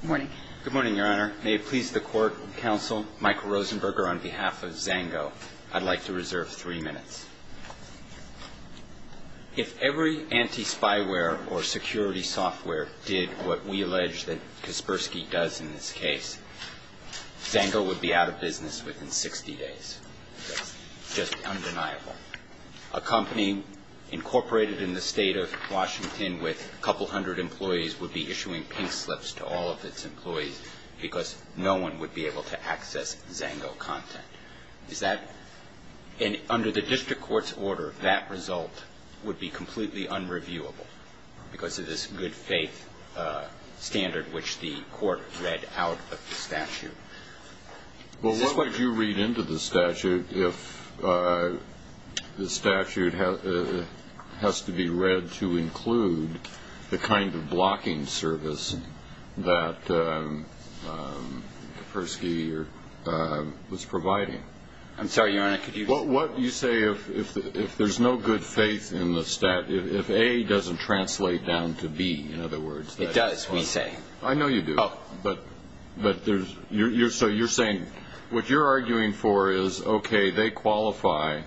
Good morning. Good morning, Your Honor. May it please the Court and Counsel, Michael Rosenberger on behalf of Zango, I'd like to reserve three minutes. If every anti-spyware or security software did what we allege that Kaspersky does in this case, Zango would be out of business within 60 days. Just undeniable. A company incorporated in the state of Washington with a couple hundred employees would be issuing pink slips to all of its employees because no one would be able to access Zango content. Under the district court's order, that result would be completely unreviewable because of this good faith standard which the court read out of the statute. Well, what would you read into the statute if the statute has to be read to include the kind of blocking service that Kaspersky was providing? I'm sorry, Your Honor. Could you explain? Well, what you say if there's no good faith in the statute, if A doesn't translate down to B, in other words. It does, we say. I know you do. Oh. But you're saying what you're arguing for is, okay, they qualify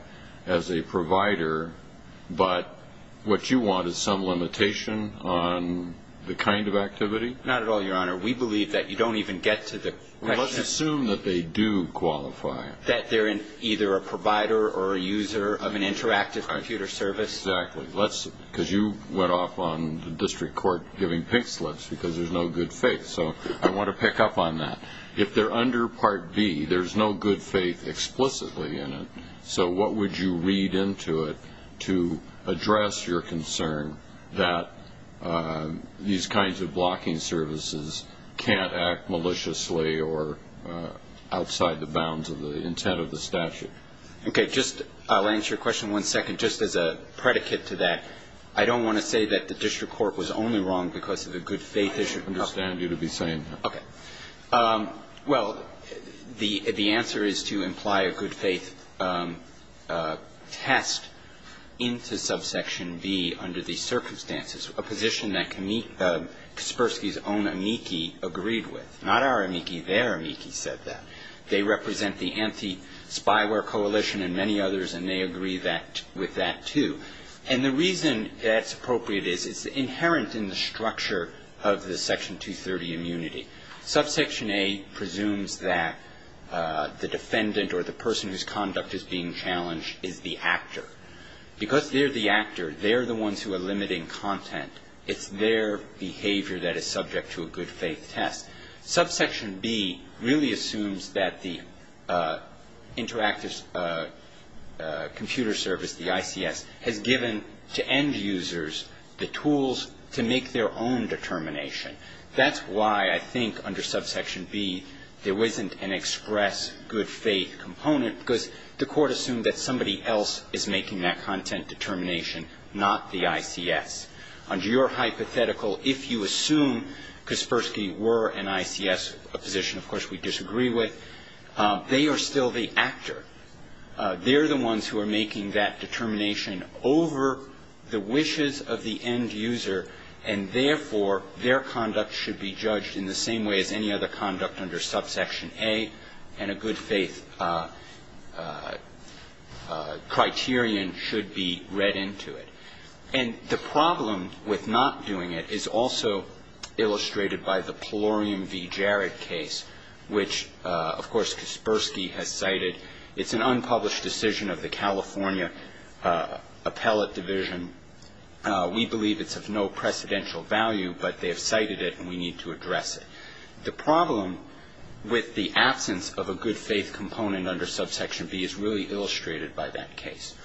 as a provider, but what you want is some limitation on the kind of activity? Not at all, Your Honor. We believe that you don't even get to the question. Let's assume that they do qualify. That they're either a provider or a user of an interactive computer service. Exactly. Because you went off on the district court giving pink slips because there's no good faith. So I want to pick up on that. If they're under Part B, there's no good faith explicitly in it, so what would you read into it to address your concern that these kinds of blocking services can't act maliciously or outside the bounds of the intent of the statute? Okay. Just, I'll answer your question in one second, just as a predicate to that. I don't want to say that the district court was only wrong because of the good faith issue. I understand you to be saying that. Okay. Well, the answer is to imply a good faith test into Subsection B under these circumstances, a position that Kaspersky's own amici agreed with. Not our amici. Their amici said that. They represent the anti-spyware coalition and many others, and they agree with that, too. And the reason that's appropriate is it's inherent in the structure of the Section 230 immunity. Subsection A presumes that the defendant or the person whose conduct is being challenged is the actor. Because they're the actor, they're the ones who are limiting content. It's their behavior that is subject to a good faith test. Subsection B really assumes that the Interactive Computer Service, the ICS, has given to end users the tools to make their own determination. That's why, I think, under Subsection B, there wasn't an express good faith component because the court assumed that somebody else is making that content determination, not the ICS. Under your hypothetical, if you assume Kaspersky were an ICS position, of course we disagree with, they are still the actor. They're the ones who are making that determination over the wishes of the end user, and therefore their conduct should be judged in the same way as any other conduct under Subsection A, and a good faith criterion should be read into it. And the problem with not doing it is also illustrated by the Pelorium v. Jarrett case, which, of course, Kaspersky has cited. It's an unpublished decision of the California Appellate Division. We believe it's of no precedential value, but they have cited it and we need to address it. The problem with the absence of a good faith component under Subsection B is really illustrated by that case.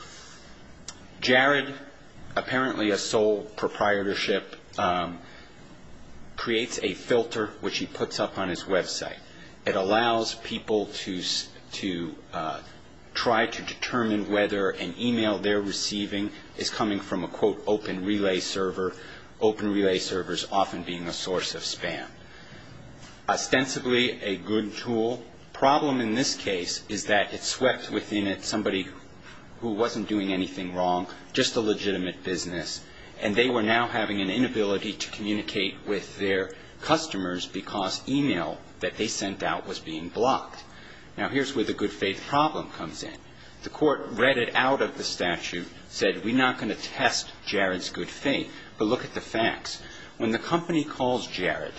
Jarrett, apparently a sole proprietorship, creates a filter which he puts up on his website. It allows people to try to determine whether an email they're receiving is coming from a, quote, open relay server, open relay servers often being a source of spam. Ostensibly a good tool, problem in this case is that it swept within it somebody who wasn't doing anything wrong, just a legitimate business, and they were now having an inability to communicate with their customers because email that they sent out was being blocked. Now here's where the good faith problem comes in. The court read it out of the statute, said we're not going to test Jarrett's good faith, but look at the facts. When the company calls Jarrett,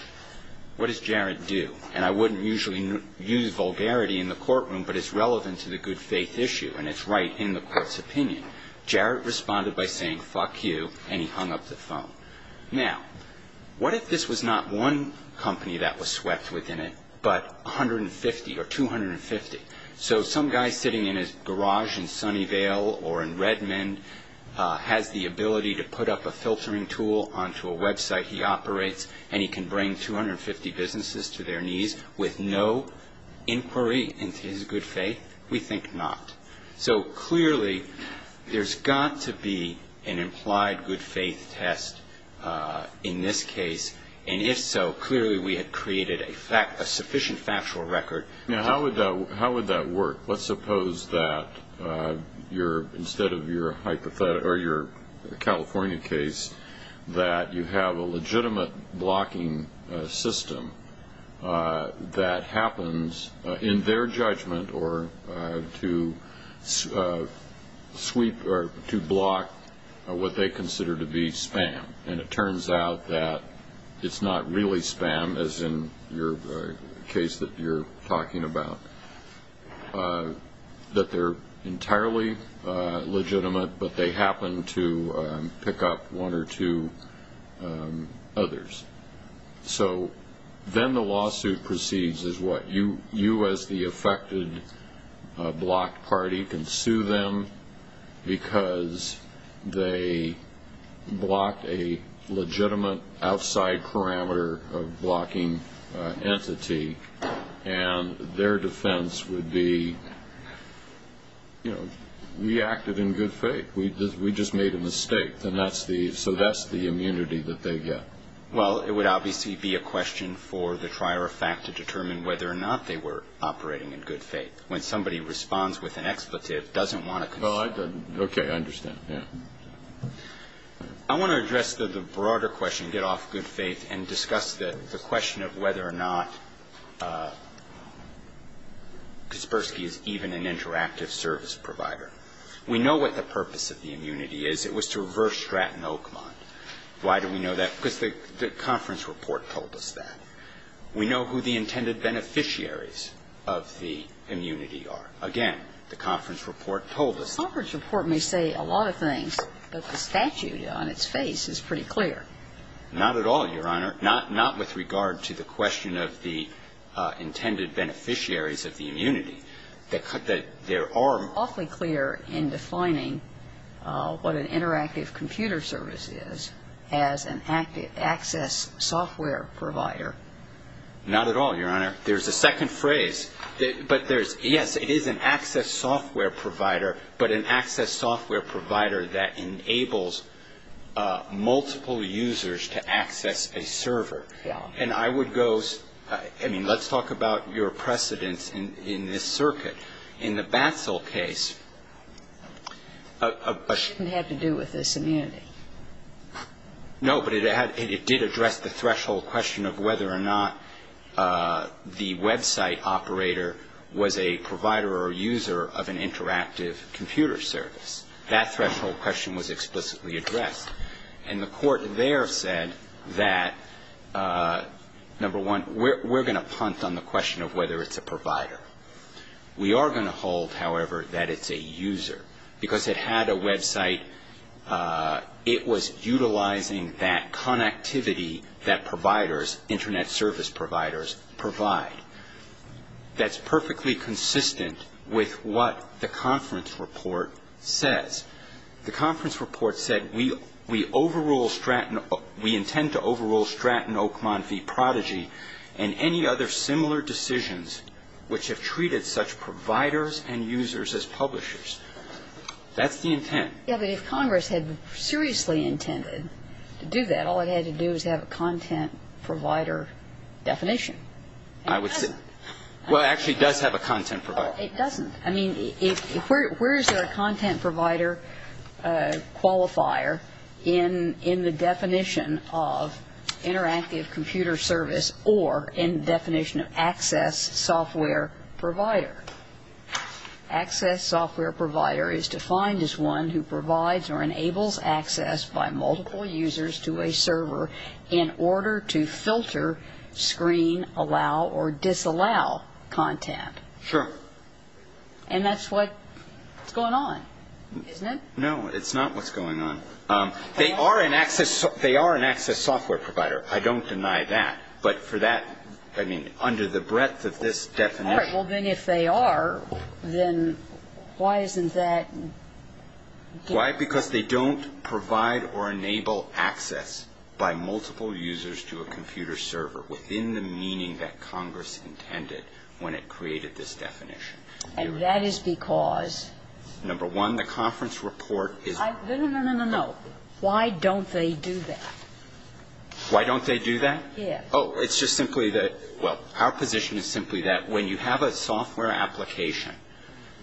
what does Jarrett do? And I wouldn't usually use vulgarity in the courtroom, but it's relevant to the good faith issue and it's right in the court's opinion. Now, what if this was not one company that was swept within it, but 150 or 250? So some guy sitting in his garage in Sunnyvale or in Redmond has the ability to put up a filtering tool onto a website he operates and he can bring 250 businesses to their knees with no inquiry into his good faith? We think not. So clearly, there's got to be an implied good faith test in this case, and if so, clearly we have created a sufficient factual record. Now how would that work? Let's suppose that instead of your California case, that you have a legitimate blocking system that happens in their judgment or to sweep or to block what they consider to be spam and it turns out that it's not really spam as in your case that you're talking about. That they're entirely legitimate, but they happen to pick up one or two others. So then the lawsuit proceeds as what? You as the affected block party can sue them because they blocked a legitimate outside parameter of blocking entity and their defense would be, you know, we acted in good faith. We just made a mistake, so that's the immunity that they get. Well, it would obviously be a question for the trier of fact to determine whether or not they were operating in good faith. When somebody responds with an expletive, doesn't want to concede. Well, I don't. Okay, I understand. Yeah. I want to address the broader question, get off good faith, and discuss the question of whether or not Kaspersky is even an interactive service provider. We know what the purpose of the immunity is. It was to reverse stratton Oakmont. Why do we know that? Because the conference report told us that. We know who the intended beneficiaries of the immunity are. Again, the conference report told us. The conference report may say a lot of things, but the statute on its face is pretty clear. Not at all, Your Honor. It's awfully clear in defining what an interactive computer service is as an access software provider. Not at all, Your Honor. There's a second phrase, but there's, yes, it is an access software provider, but an access software provider that enables multiple users to access a server. And I would go, I mean, let's talk about your precedence in this circuit. In the Batzel case, a question had to do with this immunity. No, but it did address the threshold question of whether or not the website operator was a provider or user of an interactive computer service. That threshold question was explicitly addressed. And the court there said that, number one, we're going to punt on the question of whether it's a provider. We are going to hold, however, that it's a user. Because it had a website, it was utilizing that connectivity that providers, internet service providers, provide. That's perfectly consistent with what the conference report says. The conference report said, we intend to overrule Stratton Oakmont v. Prodigy and any other similar decisions which have treated such providers and users as publishers. That's the intent. Yeah, but if Congress had seriously intended to do that, all it had to do was have a content provider definition. I would say, well, it actually does have a content provider. It doesn't. I mean, where is there a content provider qualifier in the definition of interactive computer service or in the definition of access software provider? Access software provider is defined as one who provides or enables access by multiple users to a server in order to filter, screen, allow, or disallow content. Sure. And that's what's going on, isn't it? No, it's not what's going on. They are an access software provider. I don't deny that. But for that, I mean, under the breadth of this definition. All right. Well, then if they are, then why isn't that? Why? Because they don't provide or enable access by multiple users to a computer server within the meaning that Congress intended when it created this definition. And that is because? Number one, the conference report is. No, no, no, no, no, no. Why don't they do that? Why don't they do that? Yes. Oh, it's just simply that, well, our position is simply that when you have a software application,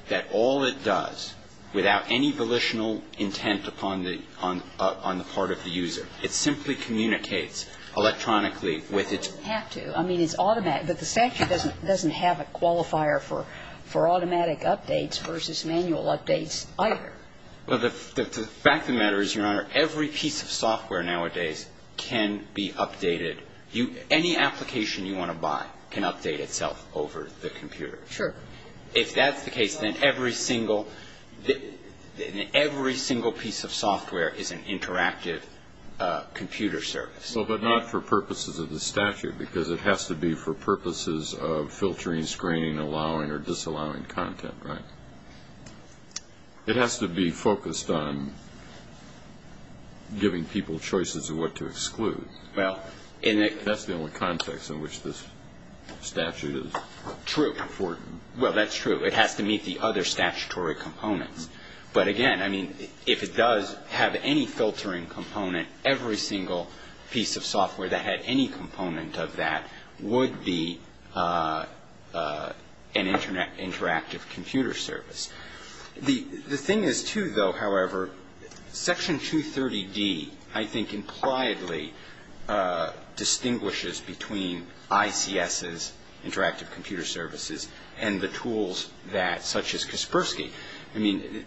that all it does, without any volitional intent upon the part of the user, it simply communicates electronically with its. It doesn't have to. I mean, it's automatic, but the statute doesn't have a qualifier for automatic updates versus manual updates either. Well, the fact of the matter is, Your Honor, every piece of software nowadays can be updated. Any application you want to buy can update itself over the computer. Sure. If that's the case, then every single piece of software is an interactive computer service. Well, but not for purposes of the statute, because it has to be for purposes of filtering, screening, allowing or disallowing content. Right. It has to be focused on giving people choices of what to exclude. Well, and that's the only context in which this statute is true for. Well, that's true. It has to meet the other statutory components. But again, I mean, if it does have any filtering component, every single piece of software that had any component of that would be an interactive computer service. The thing is, too, though, however, Section 230D, I think, impliedly distinguishes between ICS's interactive computer services and the tools such as Kaspersky. I mean,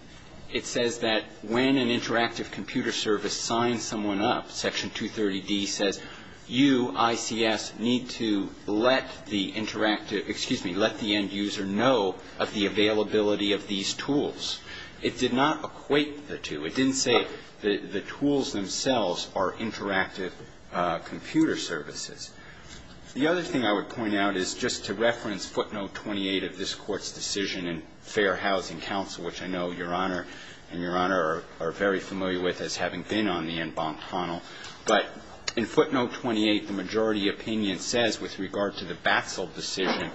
it says that when an interactive computer service signs someone up, Section 230D says, you, ICS, need to let the interactive, excuse me, let the end user know of the availability of these tools. It did not equate the two. It didn't say the tools themselves are interactive computer services. The other thing I would point out is just to reference footnote 28 of this Court's decision in Fair Housing Council, which I know Your Honor and Your Honor are very familiar with as having been on the en banc panel. But in footnote 28, the majority opinion says, with regard to the Batzel decision,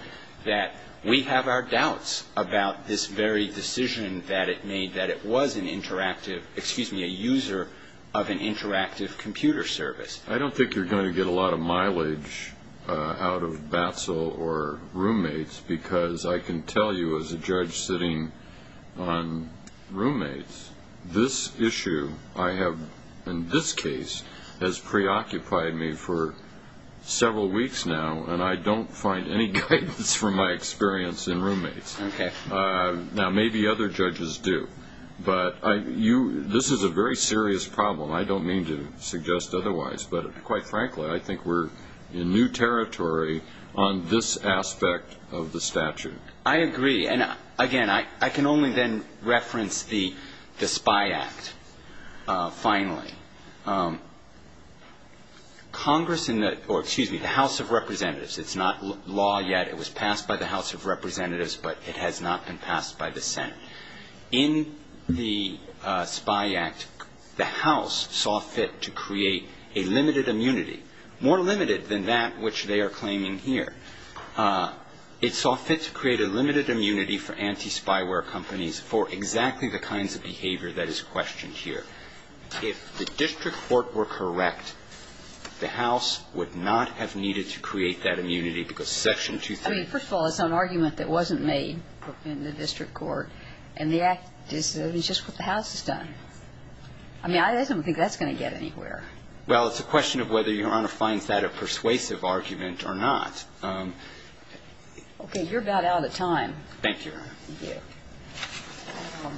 that we have our doubts about this very decision that it made, that it was an interactive, excuse me, a user of an interactive computer service. I don't think you're going to get a lot of mileage out of Batzel or roommates because I can tell you as a judge sitting on roommates, this issue I have in this case has preoccupied me for several weeks now and I don't find any guidance from my experience in roommates. Now, maybe other judges do, but this is a very serious problem. I don't mean to suggest otherwise, but quite frankly, I think we're in new territory on this aspect of the statute. I agree. And again, I can only then reference the SPY Act, finally. Congress in the, or excuse me, the House of Representatives, it's not law yet, it was passed by the House of Representatives, but it has not been passed by the Senate. In the SPY Act, the House saw fit to create a limited immunity, more limited than that which they are claiming here. It saw fit to create a limited immunity for anti-Spyware companies for exactly the kinds of behavior that is questioned here. If the district court were correct, the House would not have needed to create that immunity because Section 23. I mean, first of all, it's an argument that wasn't made in the district court and the act is just what the House has done. I mean, I don't think that's going to get anywhere. Well, it's a question of whether Your Honor finds that a persuasive argument or not. Okay. You're about out of time. Thank you, Your Honor.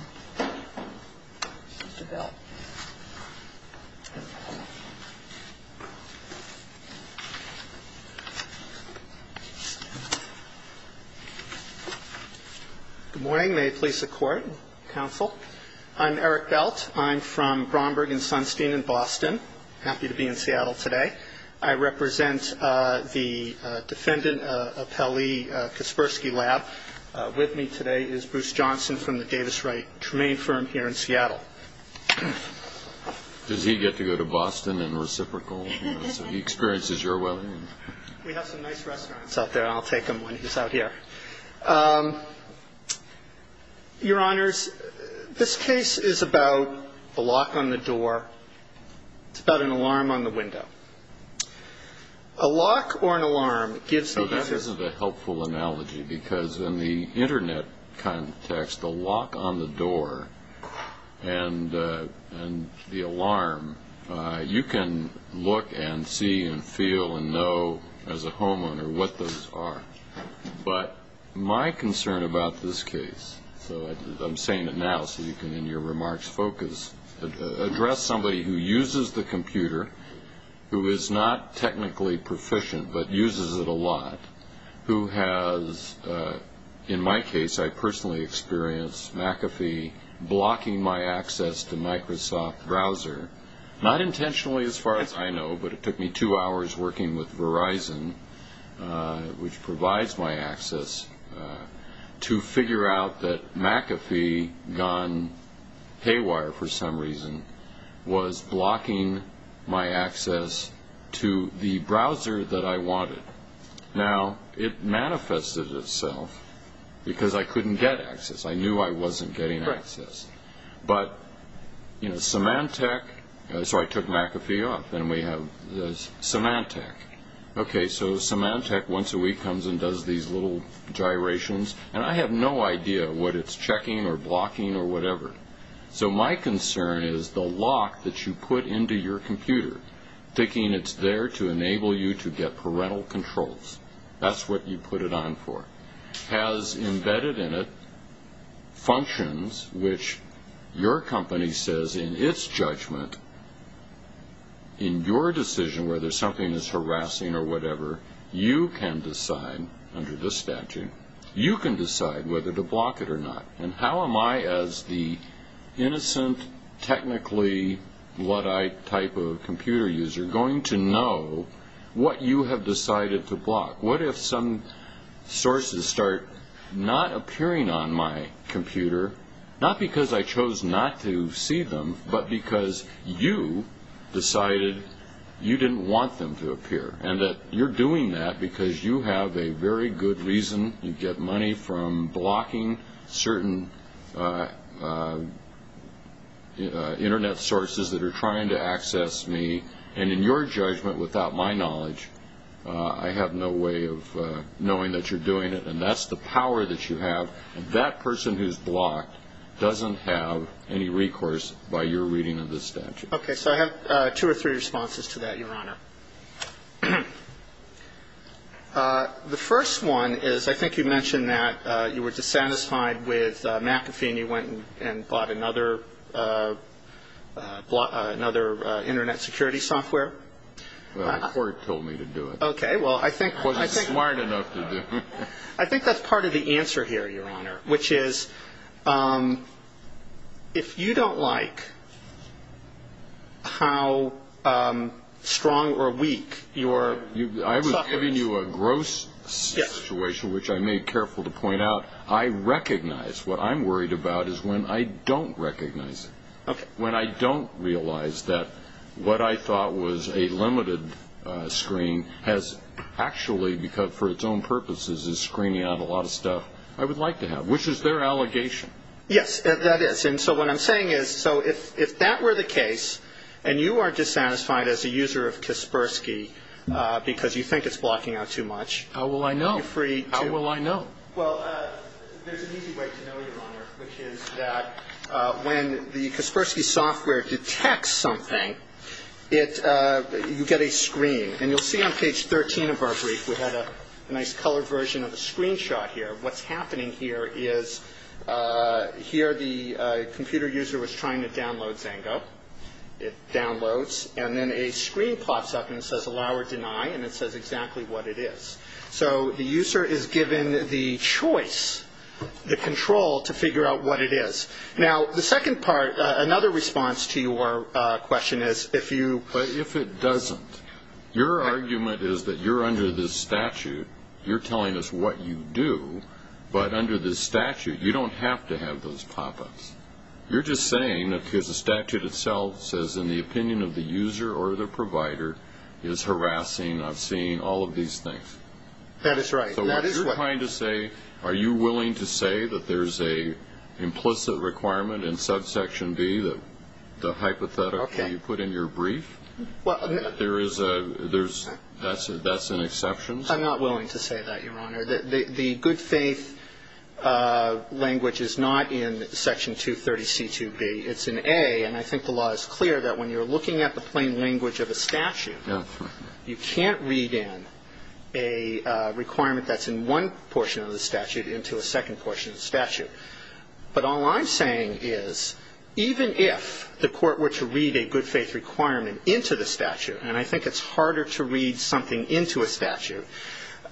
Good morning. May it please the Court and counsel. I'm Eric Belt. I'm from Bromberg and Sunstein in Boston. Happy to be in Seattle today. I represent the defendant, Appellee Kaspersky Lab. With me today is Bruce Johnson from the Davis Wright Tremaine firm here in Seattle. Does he get to go to Boston in reciprocal? So he experiences your well-being. We have some nice restaurants out there. I'll take him when he's out here. Your Honors, this case is about the lock on the door. It's about an alarm on the window. A lock or an alarm gives the user... So that isn't a helpful analogy because in the internet context, the lock on the door and the alarm, you can look and see and feel and know as a homeowner what those are. But my concern about this case, so I'm saying it now so you can, in your remarks, focus, address somebody who uses the computer, who is not technically proficient, but uses it a lot, who has, in my case, I personally experienced McAfee blocking my access to Microsoft browser, not intentionally as far as I know, but it took me two hours working with Verizon, which provides my access, to figure out that McAfee gone haywire for some reason was blocking my access to the browser that I wanted. Now, it manifested itself because I couldn't get access. I knew I wasn't getting access. But Symantec, so I took McAfee off, and we have Symantec. OK, so Symantec once a week comes and does these little gyrations, and I have no idea what it's checking or blocking or whatever. So my concern is the lock that you put into your computer, thinking it's there to enable you to get parental controls. That's what you put it on for. Has embedded in it functions which your company says in its judgment, in your decision whether something is harassing or whatever, you can decide under this statute, you can decide whether to block it or not. And how am I, as the innocent, technically Luddite type of computer user, going to know what you have decided to block? What if some sources start not appearing on my computer? Not because I chose not to see them, but because you decided you didn't want them to appear. And that you're doing that because you have a very good reason. You get money from blocking certain internet sources that are trying to access me. And in your judgment, without my knowledge, I have no way of knowing that you're doing it. And that's the power that you have. That person who's blocked doesn't have any recourse by your reading of the statute. Okay, so I have two or three responses to that, Your Honor. The first one is, I think you mentioned that you were dissatisfied with McAfee and you went and blocked another internet security software. Well, the court told me to do it. Okay, well, I think... Wasn't smart enough to do it. I think that's part of the answer here, Your Honor, which is, if you don't like how strong or weak your... I was giving you a gross situation, which I made careful to point out. I recognize what I'm worried about is when I don't recognize it. When I don't realize that what I thought was a limited screen has actually, for its own purposes, is screening out a lot of stuff I would like to have, which is their allegation. Yes, that is. And so what I'm saying is, so if that were the case, and you are dissatisfied as a user of Kaspersky because you think it's blocking out too much... How will I know? How will I know? Well, there's an easy way to know, Your Honor, which is that when the Kaspersky software detects something, you get a screen. And you'll see on page 13 of our brief, we had a nice colored version of a screenshot here. What's happening here is, here the computer user was trying to download Zango. It downloads, and then a screen pops up and says, allow or deny, and it says exactly what it is. So the user is given the choice, the control, to figure out what it is. Now, the second part, another response to your question is, if you... But if it doesn't, your argument is that you're under this statute. You're telling us what you do, but under this statute, you don't have to have those pop-ups. You're just saying that because the statute itself says, in the opinion of the user or the provider, is harassing, obscene, all of these things. That is right. So what you're trying to say, are you willing to say that there's an implicit requirement in subsection B, the hypothetical that you put in your brief, that that's an exception? I'm not willing to say that, Your Honor. The good faith language is not in section 230C2B. It's in A, and I think the law is clear that when you're looking at the plain language of a statute, you can't read in a requirement that's in one portion of the statute into a second portion of the statute. But all I'm saying is, even if the court were to read a good faith requirement into the statute, and I think it's harder to read something into a statute,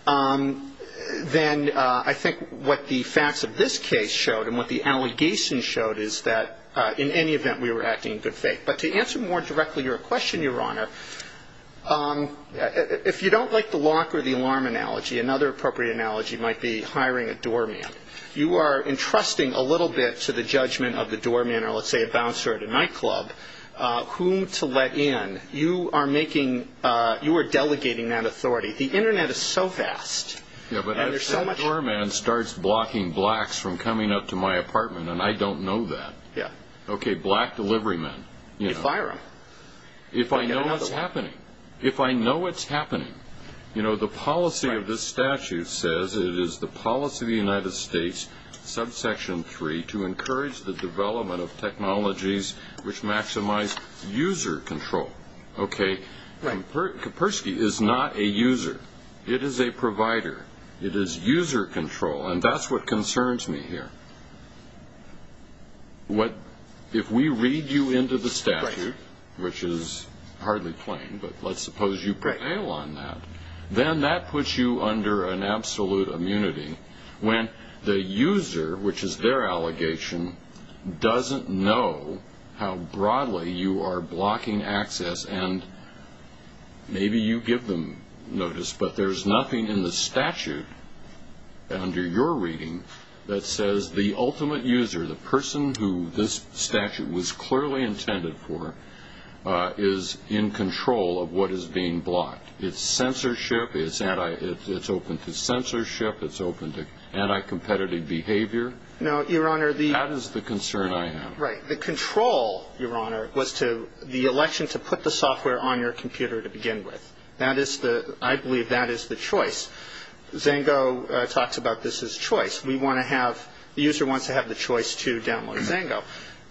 then I think what the facts of this case showed and what the allegation showed is that, in any event, we were acting in good faith. But to answer more directly your question, Your Honor, if you don't like the lock or the alarm analogy, another appropriate analogy might be hiring a doorman. You are entrusting a little bit to the judgment of the doorman, or let's say a bouncer at a nightclub, whom to let in. You are making, you are delegating that authority. The internet is so fast, and there's so much... Yeah, but if that doorman starts blocking blacks from coming up to my apartment, and I don't know that. Yeah. Okay, black delivery men. You fire them. If I know what's happening. If I know what's happening. You know, the policy of this statute says it is the policy of the United States, subsection 3, to encourage the development of technologies which maximize user control. Okay. Right. Kapersky is not a user. It is a provider. It is user control, and that's what concerns me here. If we read you into the statute, which is hardly plain, but let's suppose you prevail on that, then that puts you under an absolute immunity, when the user, which is their allegation, doesn't know how broadly you are blocking access and maybe you give them notice. But there's nothing in the statute, under your reading, that says the ultimate user, the person who this statute was clearly intended for, is in control of what is being blocked. It's censorship, it's open to censorship, it's open to anti-competitive behavior. No, Your Honor, the... That is the concern I have. Right. The control, Your Honor, was to, the election to put the software on your computer to begin with. That is the, I believe that is the choice. Zango talks about this as choice. We want to have, the user wants to have the choice to download Zango.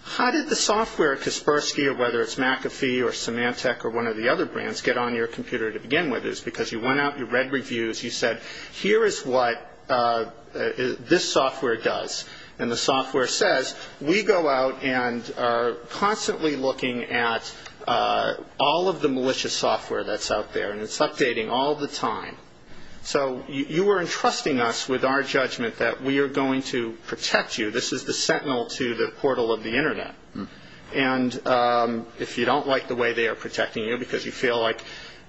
How did the software, Kaspersky, or whether it's McAfee or Symantec or one of the other brands, get on your computer to begin with is because you went out, you read reviews, you said, here is what this software does. And the software says, we go out and are constantly looking at all of the malicious software that's out there. And it's updating all the time. So you are entrusting us with our judgment that we are going to protect you. This is the sentinel to the portal of the internet. And if you don't like the way they are protecting you because you feel like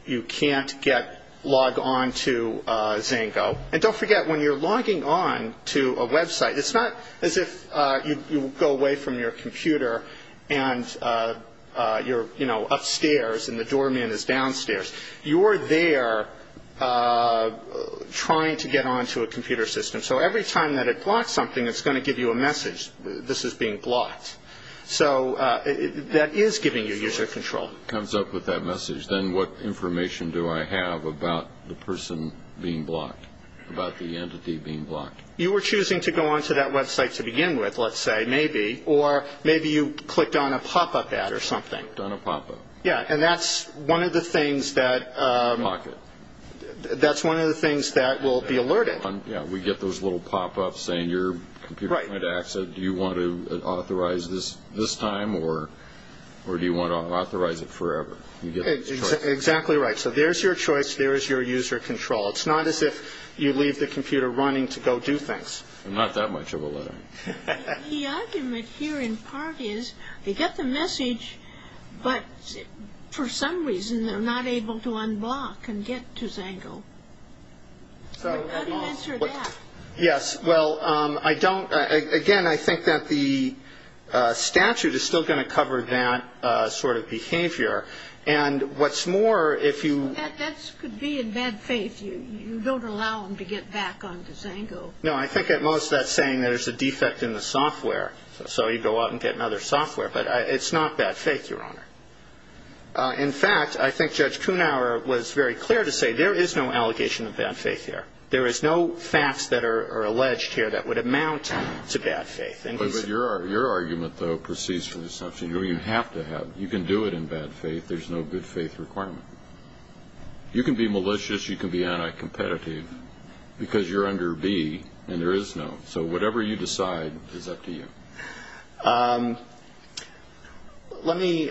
you can't get, log on to Zango. And don't forget, when you are logging on to a website, it's not as if you go away from your computer and you are upstairs and the doorman is downstairs. You are there trying to get on to a computer system. So every time that it blocks something, it's going to give you a message. This is being blocked. So that is giving you user control. It comes up with that message. Then what information do I have about the person being blocked? About the entity being blocked? You were choosing to go on to that website to begin with, let's say, maybe. Or maybe you clicked on a pop-up ad or something. Clicked on a pop-up. Yeah, and that's one of the things that will be alerted. Yeah, we get those little pop-ups saying your computer might access it. Do you want to authorize this this time? Or do you want to authorize it forever? Exactly right. So there's your choice. There is your user control. It's not as if you leave the computer running to go do things. Not that much of a letter. The argument here in part is they get the message, but for some reason they're not able to unblock and get to Zango. Yes, well, I don't. Again, I think that the statute is still going to cover that sort of behavior. And what's more, if you... You don't allow them to get back onto Zango. No, I think at most that's saying there's a defect in the software. So you go out and get another software. But it's not bad faith, Your Honor. In fact, I think Judge Kunauer was very clear to say there is no allegation of bad faith here. There is no facts that are alleged here that would amount to bad faith. But your argument, though, proceeds from the assumption you have to have. You can do it in bad faith. There's no good faith requirement. You can be malicious. You can be anti-competitive because you're under B, and there is no. So whatever you decide is up to you. Let me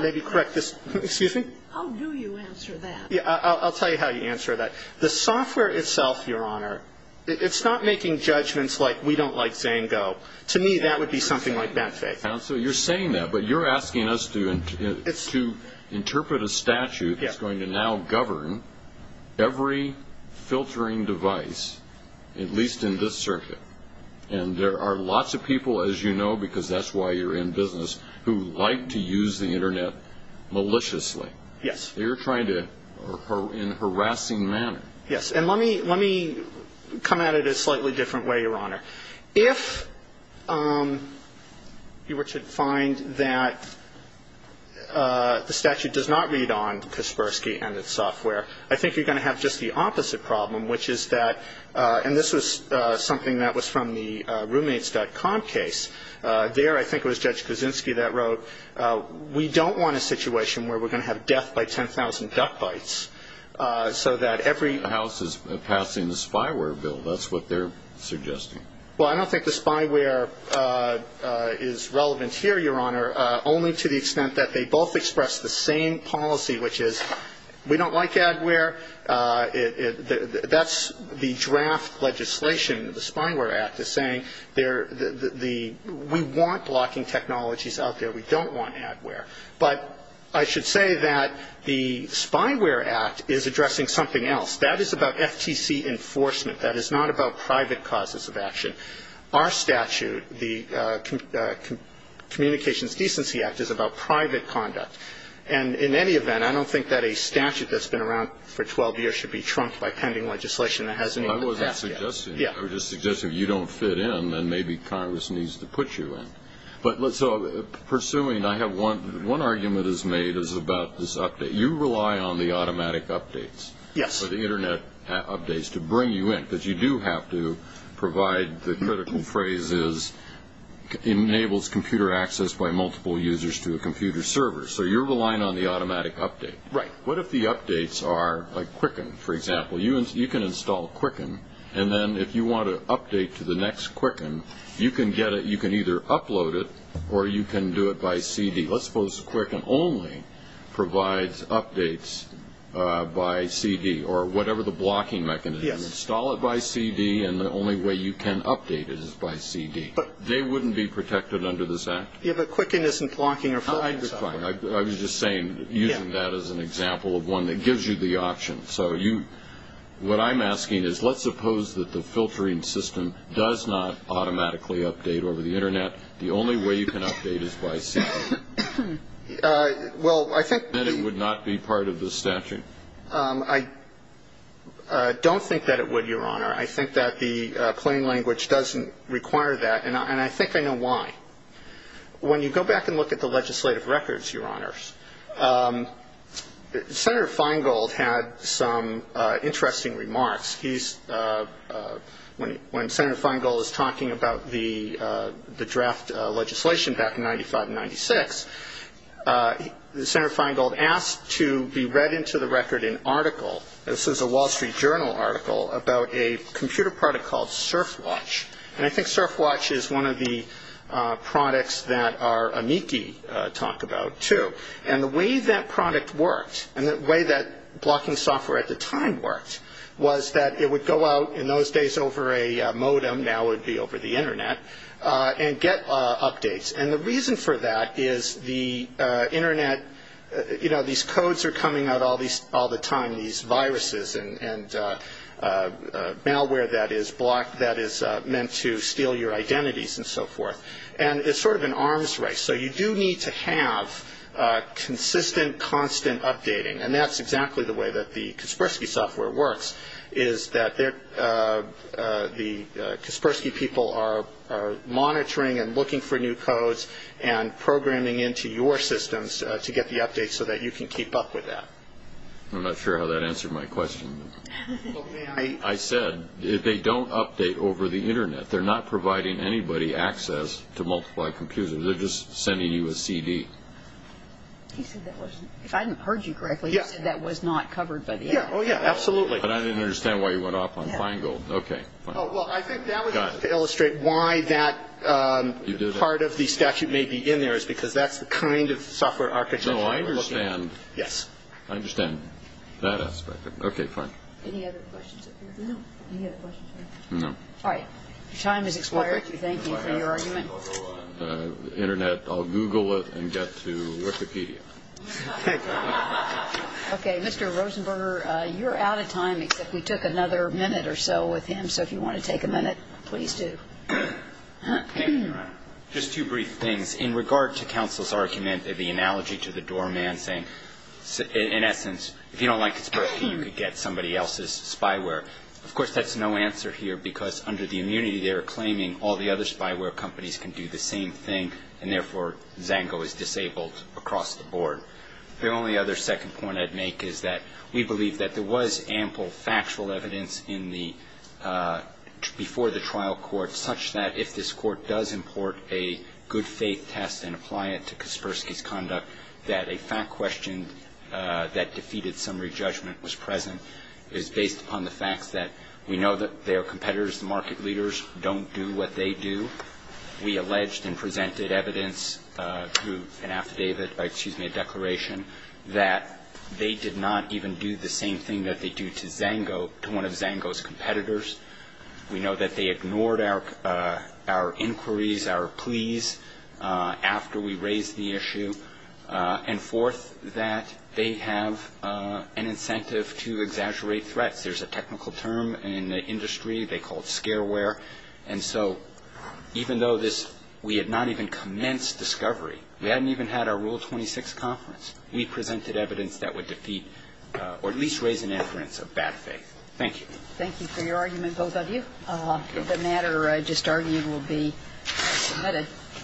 maybe correct this. Excuse me? How do you answer that? Yeah, I'll tell you how you answer that. The software itself, Your Honor, it's not making judgments like we don't like Zango. To me, that would be something like bad faith. So you're saying that, but you're asking us to interpret a statute that's going to now govern every filtering device, at least in this circuit. And there are lots of people, as you know, because that's why you're in business, who like to use the internet maliciously. Yes. They're trying to, in a harassing manner. Yes, and let me come at it a slightly different way, Your Honor. If you were to find that the statute does not read on Kaspersky and its software, I think you're going to have just the opposite problem, which is that, and this was something that was from the roommates.com case. There, I think it was Judge Kaczynski that wrote, we don't want a situation where we're going to have death by 10,000 duck bites so that every House is passing the spyware bill. That's what they're suggesting. I don't think the spyware is relevant here, Your Honor, only to the extent that they both express the same policy, which is we don't like adware. That's the draft legislation. The Spyware Act is saying we want blocking technologies out there. We don't want adware. But I should say that the Spyware Act is addressing something else. That is about FTC enforcement. That is not about private causes of action. Our statute, the Communications Decency Act, is about private conduct. In any event, I don't think that a statute that's been around for 12 years should be trumped by pending legislation that hasn't even been passed yet. I was just suggesting if you don't fit in, then maybe Congress needs to put you in. Pursuing, one argument is made is about this update. You rely on the automatic updates. Yes. The internet updates to bring you in, because you do have to provide the critical phrase is enables computer access by multiple users to a computer server. You're relying on the automatic update. Right. What if the updates are like Quicken, for example? You can install Quicken, and then if you want to update to the next Quicken, you can get it. You can either upload it, or you can do it by CD. Let's suppose Quicken only provides updates by CD, or whatever the blocking mechanism is. Yes. Install it by CD, and the only way you can update it is by CD. They wouldn't be protected under this act. Yeah, but Quicken isn't blocking or filtering. I understand. I was just saying, using that as an example of one that gives you the option. What I'm asking is, let's suppose that the filtering system The only way you can update is by CD. Well, I think That it would not be part of the statute. I don't think that it would, Your Honor. I think that the plain language doesn't require that, and I think I know why. When you go back and look at the legislative records, Your Honors, Senator Feingold had some interesting remarks. He's, when Senator Feingold is talking about the draft legislation back in 95 and 96, Senator Feingold asked to be read into the record an article, this is a Wall Street Journal article, about a computer product called SurfWatch. And I think SurfWatch is one of the products that our amici talk about, too. And the way that product worked, and the way that blocking software at the time worked, was that it would go out, in those days over a modem, now it would be over the internet, and get updates. And the reason for that is the internet, you know, these codes are coming out all the time, these viruses and malware that is blocked, that is meant to steal your identities and so forth. And it's sort of an arms race. So you do need to have consistent, constant updating. And that's exactly the way that the Kaspersky software works, is that the Kaspersky people are monitoring and looking for new codes and programming into your systems to get the updates so that you can keep up with that. I'm not sure how that answered my question. I said, they don't update over the internet. They're not providing anybody access to multiply computers. They're just sending you a CD. He said that wasn't, if I heard you correctly, he said that was not covered by the end. Yeah, oh yeah, absolutely. But I didn't understand why you went off on Feingold. Okay, fine. Oh, well, I think that was just to illustrate why that part of the statute may be in there, is because that's the kind of software architecture we're looking at. No, I understand. Yes. I understand that aspect. Okay, fine. Any other questions up here? No. Any other questions? No. All right. Your time has expired. Thank you for your argument. The internet, I'll Google it and get to Wikipedia. Okay, Mr. Rosenberger, you're out of time, except we took another minute or so with him. So if you want to take a minute, please do. Just two brief things. In regard to counsel's argument, the analogy to the doorman saying, in essence, if you don't like conspiracy, you could get somebody else's spyware. Of course, that's no answer here, because under the immunity, they're claiming all the other spyware companies can do the same thing, and therefore, Zango is disabled across the board. The only other second point I'd make is that we believe that there was ample factual evidence before the trial court such that if this court does import a good faith test and apply it to Kaspersky's conduct, that a fact question that defeated summary judgment was present. It was based upon the fact that we know that their competitors, the market leaders, don't do what they do. We alleged and presented evidence to an affidavit, excuse me, a declaration, that they did not even do the same thing that they do to Zango, to one of Zango's competitors. We know that they ignored our inquiries, our pleas after we raised the issue. And fourth, that they have an incentive to exaggerate threats. There's a technical term in the industry. They call it scareware. And so even though we had not even commenced discovery, we hadn't even had our Rule 26 conference, we presented evidence that would defeat or at least raise an inference of bad faith. Thank you. Thank you for your argument, both of you. The matter just argued will be submitted.